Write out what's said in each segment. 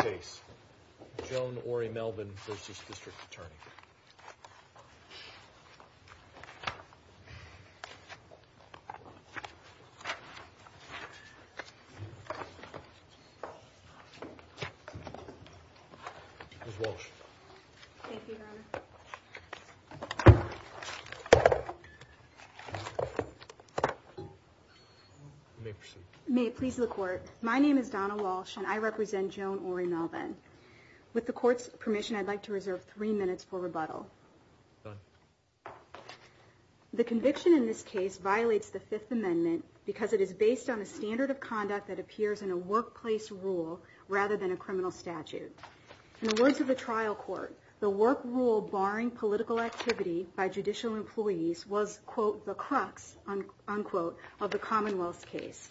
case. Joan Orie Melvin v. District Attorney. Ms. Walsh. Thank you, Your Honor. May proceed. May it please the court. My name is Donna Walsh and I represent Joan Orie Melvin. With the court's permission, I'd like to reserve three minutes for rebuttal. The conviction in this case violates the Fifth Amendment because it is based on a standard of conduct that appears in a workplace rule rather than a criminal statute. In the words of the trial court, the work rule barring political activity by judicial employees was, quote, the crux, unquote, of the Commonwealth's case.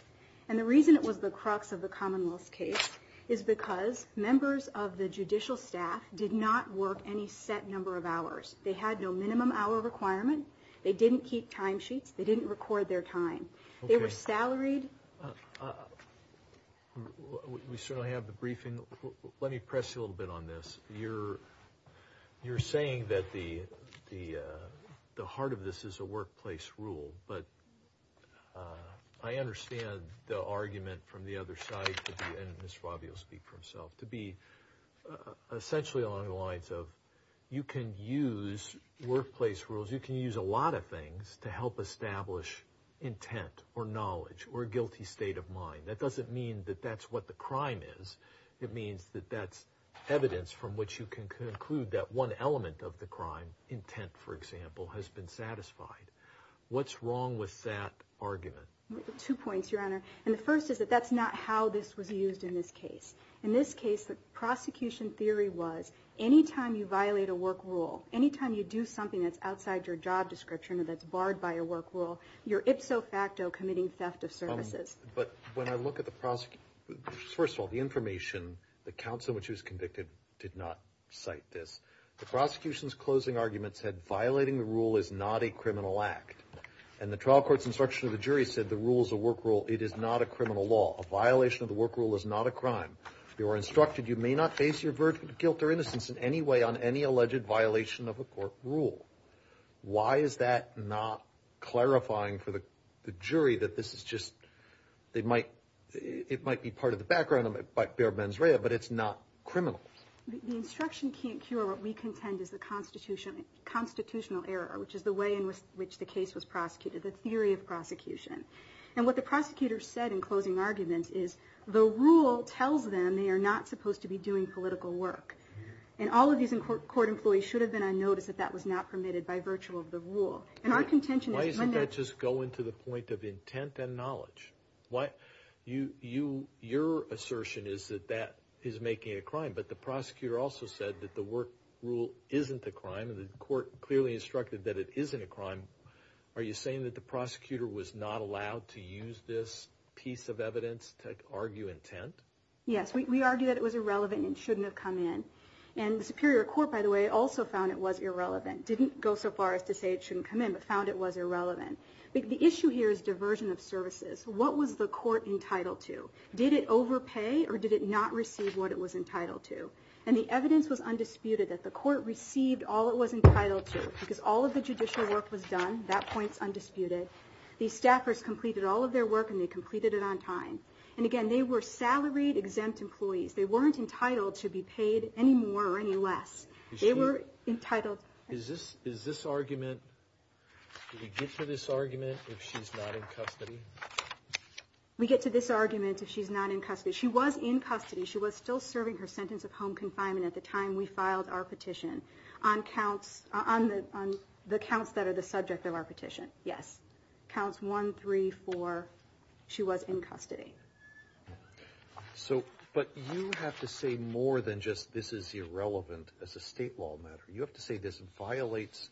And the reason it was the crux of the Commonwealth's case is because members of the judicial staff did not work any set number of hours. They had no minimum hour requirement. They didn't keep time sheets. They didn't record their time. They were salaried. We certainly have the briefing. Let me press you a little bit on this. You're you're saying that the the the heart of this is a workplace rule, but I understand the argument from the other side, and Ms. Favio will speak for himself, to be essentially along the lines of you can use workplace rules. You can use a lot of things to help establish intent or knowledge or a guilty state of mind. That doesn't mean that that's what the crime is. It means that that's evidence from which you can conclude that one element of argument. Two points, Your Honor. And the first is that that's not how this was used in this case. In this case, the prosecution theory was any time you violate a work rule, any time you do something that's outside your job description or that's barred by a work rule, you're ipso facto committing theft of services. But when I look at the prosecutor, first of all, the information, the counsel which was convicted did not cite this. The prosecution's closing argument said violating the rule is not a criminal act. And the trial court's instruction of the jury said the rule is a work rule. It is not a criminal law. A violation of the work rule is not a crime. You are instructed you may not face your guilt or innocence in any way on any alleged violation of a court rule. Why is that not clarifying for the jury that this is just, it might be part of the background of bare mens rea, but it's not criminal? The instruction can't cure what we contend is the constitutional error, which is the way in which the case was prosecuted, the theory of prosecution. And what the prosecutor said in closing argument is the rule tells them they are not supposed to be doing political work. And all of these court employees should have been on notice that that was not permitted by virtue of the rule. And our contention is when that... Why doesn't that just go into the point of intent and knowledge? Your assertion is that that is making it a crime, but the prosecutor also said that the work rule isn't a crime and the court clearly instructed that it isn't a crime. Are you saying that the prosecutor was not allowed to use this piece of evidence to argue intent? Yes, we argue that it was irrelevant and shouldn't have come in. And the Superior Court, by the way, also found it was irrelevant, didn't go so far as to say it shouldn't come in, but found it was irrelevant. The issue here is diversion of services. What was the court entitled to? Did it overpay or did it not receive what it was entitled to? And the evidence was undisputed that the court received all it was all of the judicial work was done. That point's undisputed. The staffers completed all of their work and they completed it on time. And again, they were salaried exempt employees. They weren't entitled to be paid any more or any less. They were entitled... Is this argument... Do we get to this argument if she's not in custody? We get to this argument if she's not in custody. She was in custody. She was still serving her sentence of home confinement at the time we filed our petition. On the counts that are the subject of our petition, yes. Counts 1, 3, 4, she was in custody. So, but you have to say more than just this is irrelevant as a state law matter. You have to say this violates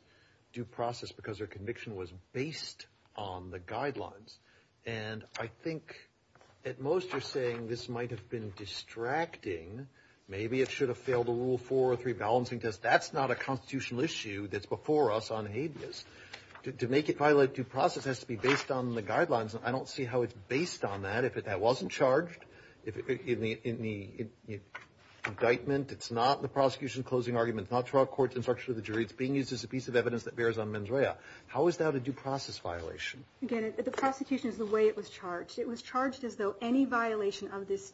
due process because her conviction was based on the guidelines. And I think at most you're saying this might have been distracting. Maybe it should have failed a rule 4 or 3 balancing test. That's not a constitutional issue that's before us on habeas. To make it violate due process has to be based on the guidelines. I don't see how it's based on that if it wasn't charged in the indictment. It's not the prosecution's closing argument. It's not trial court's instruction to the jury. It's being used as a piece of evidence that bears on mens rea. How is that a due process violation? Again, the prosecution is the way it was charged. It was charged as though any violation of this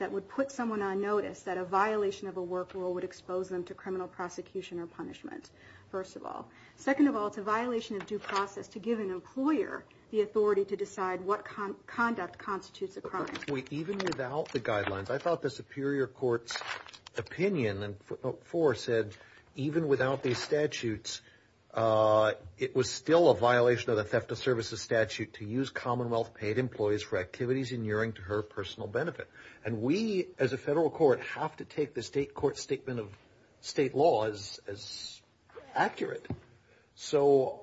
would put someone on notice that a violation of a work rule would expose them to criminal prosecution or punishment, first of all. Second of all, it's a violation of due process to give an employer the authority to decide what conduct constitutes a crime. Even without the guidelines, I thought the Superior Court's opinion and 4 said even without these statutes, it was still a violation of the theft of services statute to use Commonwealth paid employees for activities inuring to her personal benefit. And we as a federal court have to take the state court statement of state laws as accurate. So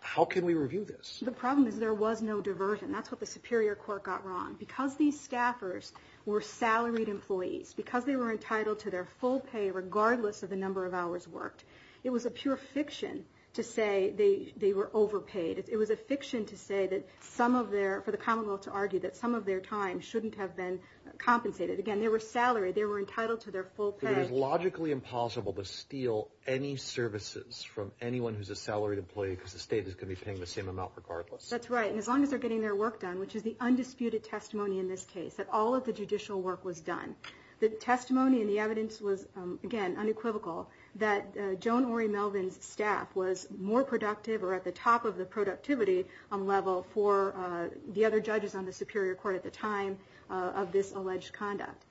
how can we review this? The problem is there was no diversion. That's what the Superior Court got wrong. Because these staffers were salaried employees, because they were entitled to their full pay regardless of the number of hours worked, it was a pure fiction to say they were overpaid. It was a fiction to say that some of their, for the Commonwealth to argue that some of their time shouldn't have been compensated. Again, they were salaried. They were entitled to their full pay. It is logically impossible to steal any services from anyone who's a salaried employee because the state is going to be paying the same amount regardless. That's right. And as long as they're getting their work done, which is the undisputed testimony in this case, that all of the judicial work was done. The testimony and the evidence was again unequivocal that Joan Ori Melvin's staff was more productive or at the top of the productivity level for the other judges on the Superior Court at the time of this alleged conduct.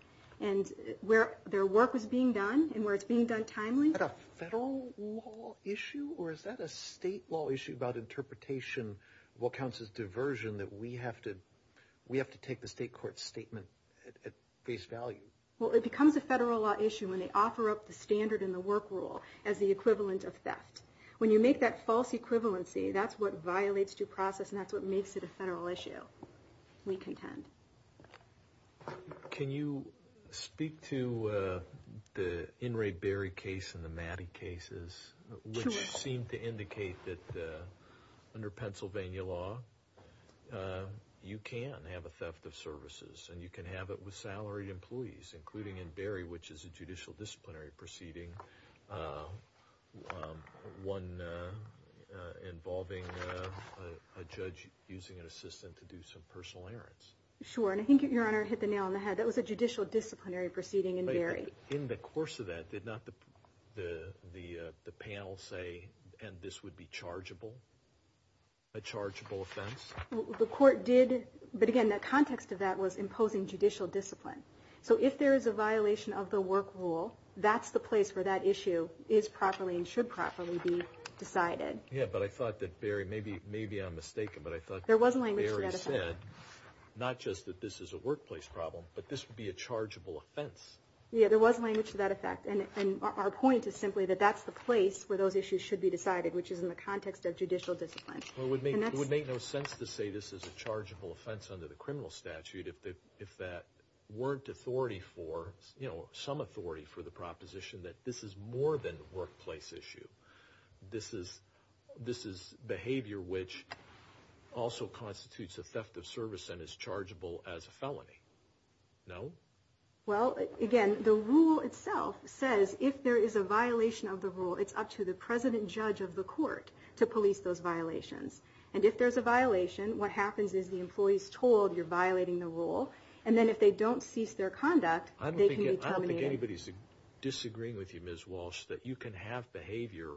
And where their work was being done and where it's being done timely. Is that a federal law issue or is that a state law issue about interpretation of what counts as diversion that we have to take the state court statement at face value? Well, it becomes a federal law issue when they offer up the standard in the work rule as the equivalent of theft. When you make that false equivalency, that's what violates due process and that's what makes it a federal issue. We contend. Can you speak to the In re Berry case and the Maddie cases which seem to indicate that under Pennsylvania law, you can have a theft of services and you can have it with salaried employees including in Berry, which is a judicial disciplinary proceeding. One involving a judge using an assistant to do some personal errands. Sure, and I think your honor hit the nail on the head. That was a judicial disciplinary proceeding in Berry. In the course of that, did not the panel say and this would be chargeable, a chargeable offense? The court did, but again the context of that was imposing judicial discipline. So if there is a violation of the work rule, that's the place where that issue is properly and should properly be decided. Yeah, but I thought that Berry, maybe I'm mistaken, but I thought Berry said not just that this is a workplace problem, but this would be a chargeable offense. Yeah, there was language to that effect and our point is simply that that's the place where those issues should be decided, which is in the context of judicial discipline. Well, it would make no sense to say this is a chargeable offense under the criminal statute if that weren't authority for, you know, some authority for the proposition that this is more than workplace issue. This is behavior which also constitutes a theft of service and is chargeable as a felony. No? Well, again, the rule itself says if there is a violation of the rule, it's up to the president judge of the court to police those violations. And if there's a violation, what happens is the employee is told you're violating the rule and then if they don't cease their conduct, they can be terminated. I don't think anybody's disagreeing with you, Ms. Walsh, that you can have behavior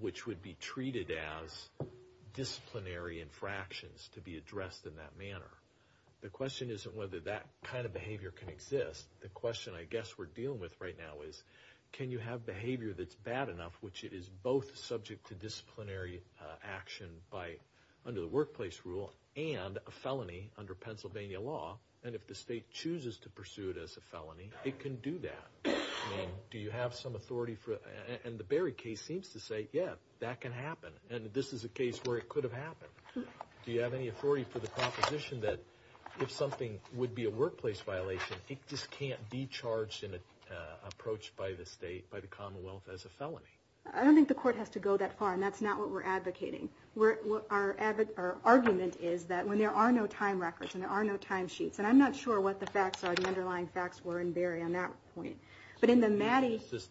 which would be treated as disciplinary infractions to be addressed in that manner. The question isn't whether that kind of behavior can exist. The question I guess we're dealing with right now is can you have behavior that's bad enough, which it is both subject to disciplinary action by under the workplace rule and a felony under Pennsylvania law. And if the state chooses to pursue it as a felony, it can do that. I mean, do you have some authority for it? And the Berry case seems to say, yeah, that can happen. And this is a case where it could have happened. Do you have any authority for the proposition that if something would be a workplace violation, it just can't be charged in an approach by the state, by the Commonwealth as a felony? I don't think the court has to go that far. And that's not what we're advocating. Our argument is that when there are no time records and there are no timesheets, and I'm not sure what the facts are, the underlying facts were in Berry on that point, but in the Maddy case,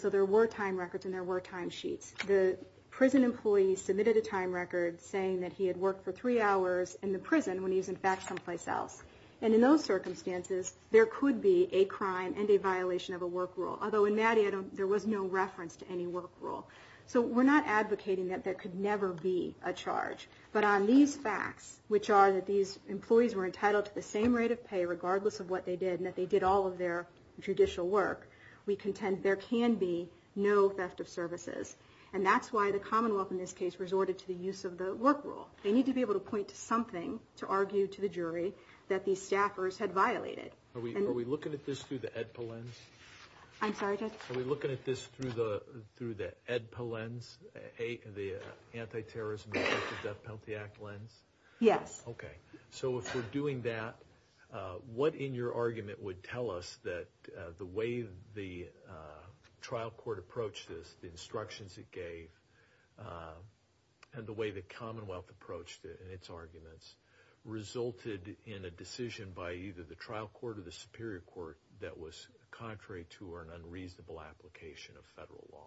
so there were time records and there were timesheets. The prison employee submitted a time record saying that he had worked for three hours in the prison when he was in fact someplace else. And in those circumstances, there could be a crime and a violation of the work rule. Although in Maddy, there was no reference to any work rule. So we're not advocating that there could never be a charge. But on these facts, which are that these employees were entitled to the same rate of pay regardless of what they did and that they did all of their judicial work, we contend there can be no theft of services. And that's why the Commonwealth in this case resorted to the use of the work rule. They need to be able to point to something to argue to the jury that these staffers had violated. Are we looking at this through the EDPA lens? I'm sorry, Judge? Are we looking at this through the EDPA lens, the anti-terrorism death penalty act lens? Yes. Okay. So if we're doing that, what in your argument would tell us that the way the trial court approached this, the instructions it gave, and the way the Commonwealth approached it and its arguments resulted in a decision by either the trial court or the Superior Court that was contrary to or an unreasonable application of federal law?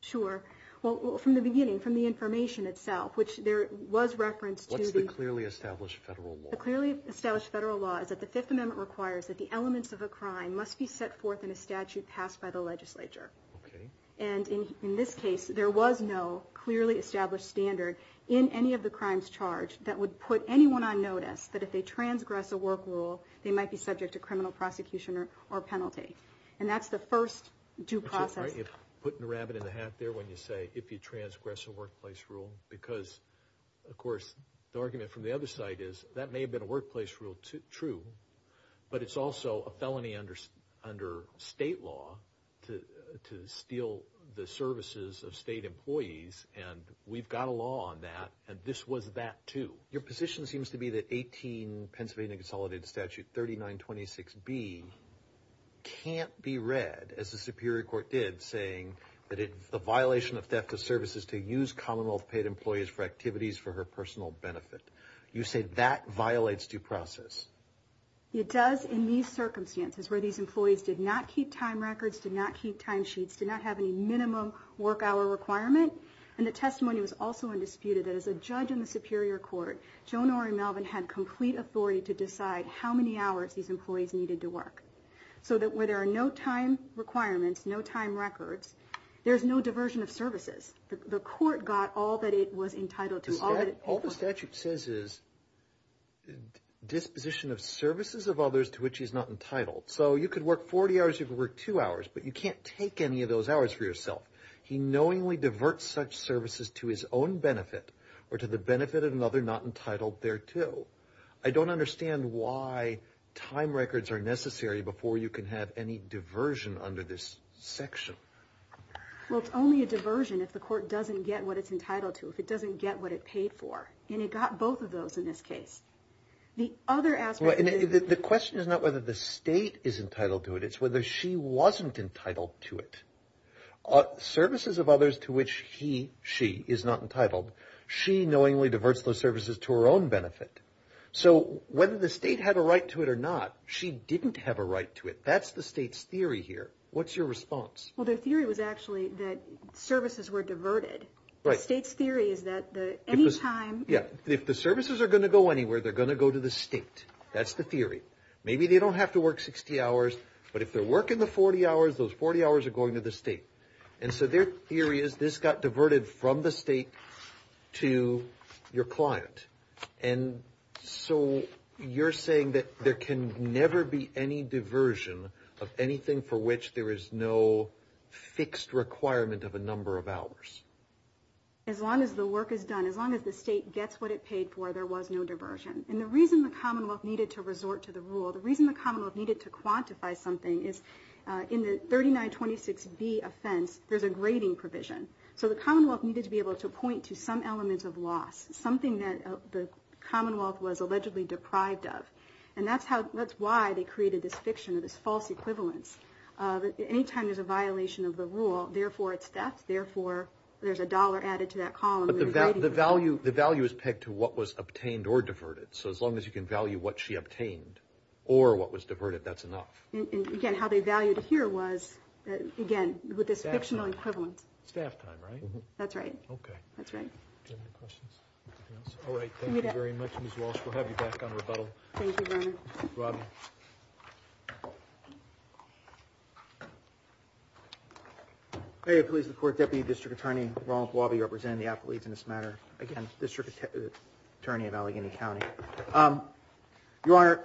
Sure. Well, from the beginning, from the information itself, which there was reference to the clearly established federal law. The clearly established federal law is that the Fifth Amendment requires that the elements of a crime must be set forth in a statute passed by the legislature. Okay. And in this case, there was no clearly established standard in any of the crimes charged that would put anyone on a workplace rule. They might be subject to criminal prosecution or penalty. And that's the first due process. Putting the rabbit in the hat there when you say, if you transgress a workplace rule, because of course, the argument from the other side is that may have been a workplace rule, true, but it's also a felony under state law to steal the services of state employees. And we've got a law on that. And this was that, too. Your position seems to be that 18 Pennsylvania consolidated statute 3926 B can't be read as the Superior Court did saying that it's a violation of theft of services to use Commonwealth paid employees for activities for her personal benefit. You say that violates due process. It does in these circumstances where these employees did not keep time records, did not keep time sheets, did not have any minimum work hour requirement. And the testimony was also undisputed that as a judge in the Superior Court, Joan R. And Melvin had complete authority to decide how many hours these employees needed to work so that where there are no time requirements, no time records, there's no diversion of services. The court got all that it was entitled to. All the statute says is disposition of services of others to which is not entitled. So you could work 40 hours, you could work two hours, but you can't take any of those hours for yourself. He knowingly services to his own benefit or to the benefit of another not entitled thereto. I don't understand why time records are necessary before you can have any diversion under this section. Well, it's only a diversion if the court doesn't get what it's entitled to, if it doesn't get what it paid for. And it got both of those in this case. The other aspect. The question is not whether the state is entitled to it. It's whether she wasn't entitled to it. Services of others to which he, she is not entitled, she knowingly diverts those services to her own benefit. So whether the state had a right to it or not, she didn't have a right to it. That's the state's theory here. What's your response? Well, their theory was actually that services were diverted. The state's theory is that any time... Yeah, if the services are going to go anywhere, they're going to go to the state. That's the theory. Maybe they don't have to work 60 hours, but if they're working the 40 hours, those 40 hours are going to the state. And so their theory is this got diverted from the state to your client. And so you're saying that there can never be any diversion of anything for which there is no fixed requirement of a number of hours. As long as the work is done, as long as the state gets what it paid for, there was no diversion. And the reason the Commonwealth needed to resort to the rule, the reason the Commonwealth needed to quantify something is in the 3926B offense, there's a grading provision. So the Commonwealth needed to be able to point to some elements of loss, something that the Commonwealth was allegedly deprived of. And that's how, that's why they created this fiction of this false equivalence. Anytime there's a violation of the rule, therefore it's theft, therefore there's a dollar added to that column. But the value, the value is pegged to what was obtained or diverted. So as long as you can value what she obtained or what was diverted, that's enough. And again, how they valued here was, again, with this fictional equivalence. Staff time, right? That's right. Okay. That's right. All right. Thank you very much, Ms. Walsh. We'll have you back on rebuttal. Thank you, Your Honor. Robin. May it please the Court, Deputy District Attorney Roland Guabi representing the athletes in this matter. Again, District Attorney of Allegheny County. Your Honor,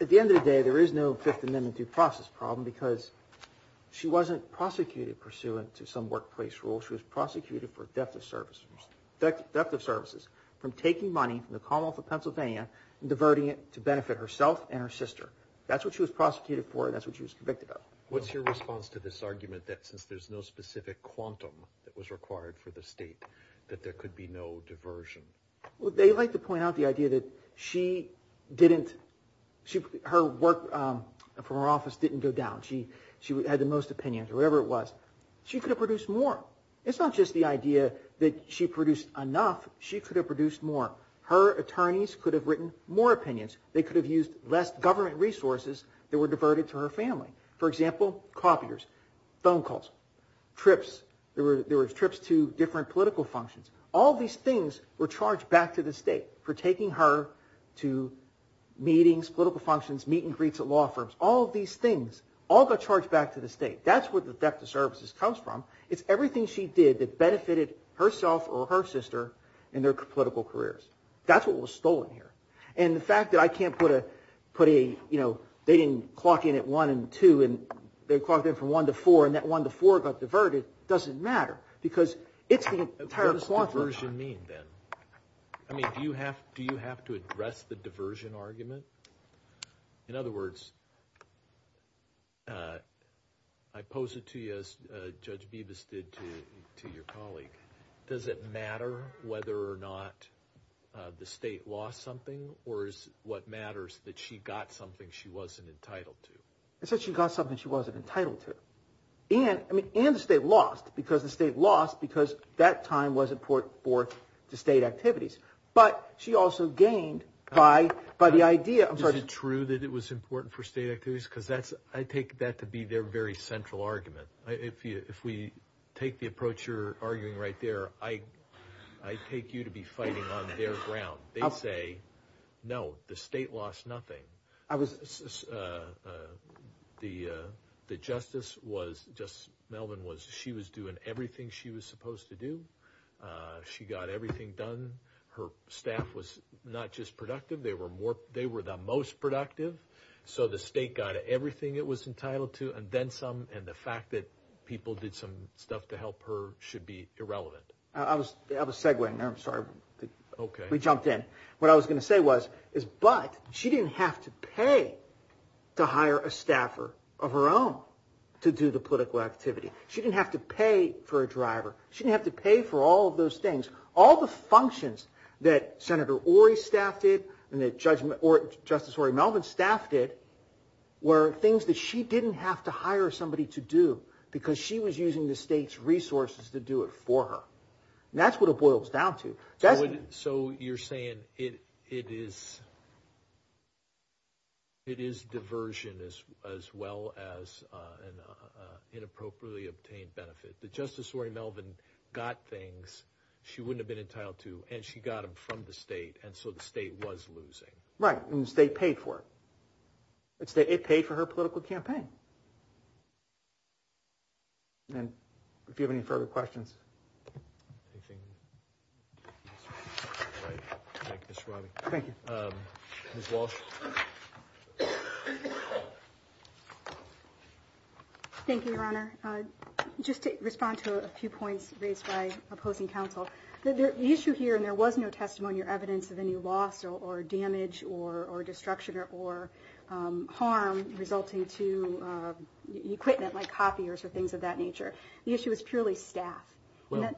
at the end of the day, there is no Fifth Amendment due process problem because she wasn't prosecuted pursuant to some workplace rule. She was prosecuted for theft of services, theft of services from taking money from the Commonwealth of Pennsylvania and diverting it to benefit herself and her sister. That's what she was prosecuted for and that's what she was convicted of. What's your response to this argument that since there's no specific quantum that was required for the state, that there could be no diversion? Well, they like to point out the idea that she didn't, her work from her office didn't go down. She had the most opinions or whatever it was. She could have produced more. It's not just the idea that she produced enough. She could have produced more. Her attorneys could have written more opinions. They could have used less government resources that were diverted to her family. For example, copiers, phone calls, trips. There were trips to different political functions. All these things were charged back to the state for taking her to meetings, political functions, meet and greets at law firms. All of these things all got charged back to the state. That's where the theft of services comes from. It's everything she did that benefited herself or her sister in their political careers. That's what was stolen here and the fact that I can't put a, you know, they didn't clock in at one and two and they clocked in from one to four and that one to four got diverted doesn't matter because it's the entire... What does diversion mean then? I mean, do you have to address the diversion argument? In other words, I pose it to you as Judge Bibas did to your colleague. Does it matter whether or not the state lost something or is what matters that she got something she wasn't entitled to? It's that she got something she wasn't entitled to and I mean and the state lost because the state lost because that time was important for the state activities, but she also gained by the idea... Is it true that it was important for state activities? Because that's, I take that to be their very central argument. If we take the approach you're arguing right there, I take you to be fighting on their ground. They say, no, the state lost nothing. The Justice was just doing everything she was supposed to do. She got everything done. Her staff was not just productive. They were the most productive. So the state got everything it was entitled to and then some and the fact that people did some stuff to help her should be irrelevant. I have a segue in there. I'm sorry. We jumped in. What I was going to say was, but she didn't have to pay to hire a staffer of her own to do the political activity. She didn't have to pay for a driver. She didn't have to pay for all of those things. All the functions that Senator Orrey staffed it and that Justice Orrey Melvin staffed it were things that she didn't have to hire somebody to do because she was using the state's resources to do it for her. That's what it boils down to. So you're saying it is it is diversion as well as an inappropriately obtained benefit that Justice Orrey Melvin got things she wouldn't have been entitled to and she got them from the state. And so the state was losing. Right. And the state paid for it. It's that it paid for her political campaign. And if you have any further questions. Thank you. Thank you, Your Honor. Just to respond to a few points raised by opposing counsel. The issue here, and there was no testimony or evidence of any loss or damage or destruction or harm resulting to equipment like copiers or things of that nature. The issue is purely staff. Well,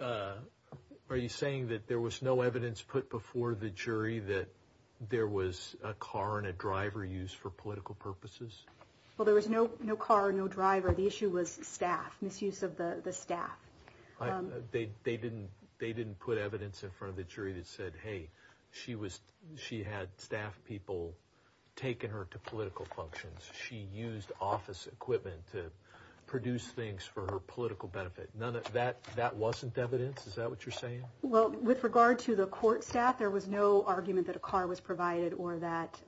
are you saying that there was no evidence put before the jury that there was a car and a driver used for political purposes? Well, there was no no car, no driver. The issue was staff misuse of the staff. They didn't they didn't put evidence in front of the jury that said, hey, she was she had staff people taking her to political functions. She used office equipment to produce things for her political benefit. None of that. That wasn't evidence. Is that what you're saying? Well, with regard to the court staff, there was no argument that a car was provided or that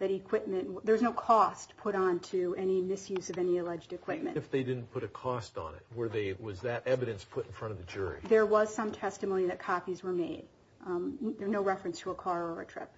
that equipment there's no cost put on to any misuse of any alleged equipment if they didn't put a cost on it. Were they was that evidence put in front of the jury? There was some testimony that copies were made. There are no reference to a car or a trip.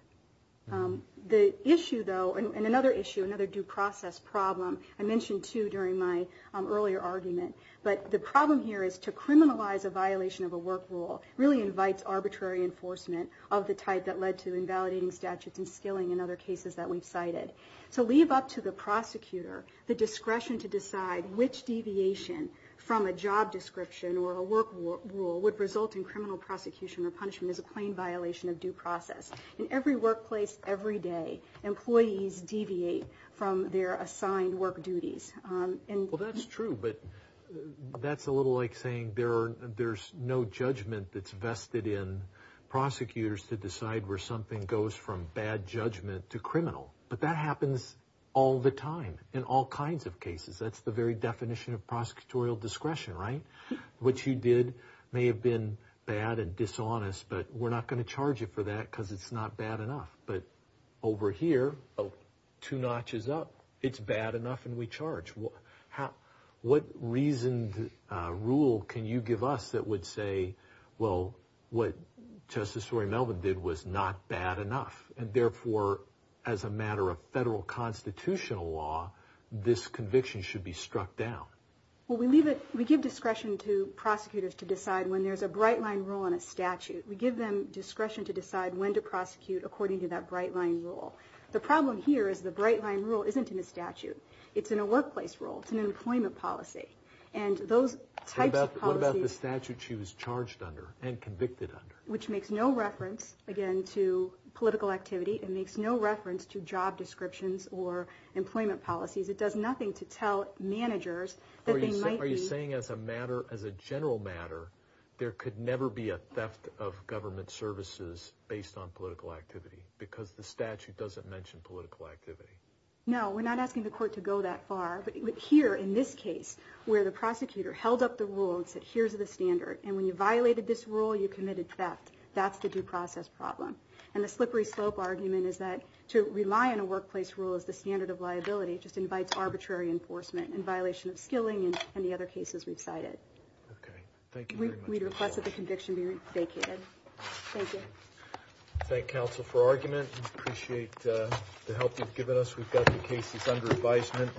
The issue though, and another issue, another due process problem I mentioned to during my earlier argument. But the problem here is to criminalize a violation of a work rule really invites arbitrary enforcement of the type that led to invalidating statutes and skilling in other cases that we've cited. So leave up to the prosecutor the discretion to decide which deviation from a job description or a work rule would result in criminal prosecution or punishment is a plain violation of due process. In every workplace, every day employees deviate from their assigned work duties. Well, that's true, but that's a little like saying there's no judgment that's vested in prosecutors to decide where something goes from bad judgment to criminal. But that happens all the time in all kinds of cases. That's the very definition of prosecutorial discretion, right? What you did may have been bad and dishonest, but we're not going to charge you for that because it's not bad enough. But it's not bad enough and we charge. What reasoned rule can you give us that would say, well, what Justice Rory Melvin did was not bad enough and therefore, as a matter of federal constitutional law, this conviction should be struck down? Well, we give discretion to prosecutors to decide when there's a bright line rule on a statute. We give them discretion to decide when to prosecute according to that bright line rule. The problem here is the bright line rule isn't in a statute. It's in a workplace rule. It's an employment policy. And those types of policies... What about the statute she was charged under and convicted under? Which makes no reference, again, to political activity. It makes no reference to job descriptions or employment policies. It does nothing to tell managers that they might be... Are you saying as a matter, as a general matter, there could never be a theft of government services based on political activity because the statute doesn't mention political activity? No, we're not asking the court to go that far. But here, in this case, where the prosecutor held up the rule and said, here's the standard, and when you violated this rule, you committed theft, that's the due process problem. And the slippery slope argument is that to rely on a workplace rule as the standard of liability just invites arbitrary enforcement and violation of skilling and the other cases we've cited. Okay. Thank you very much. We request that the conviction be vacated. Thank you. Thank counsel for argument. Appreciate the help you've given us. We've got the cases under advisement.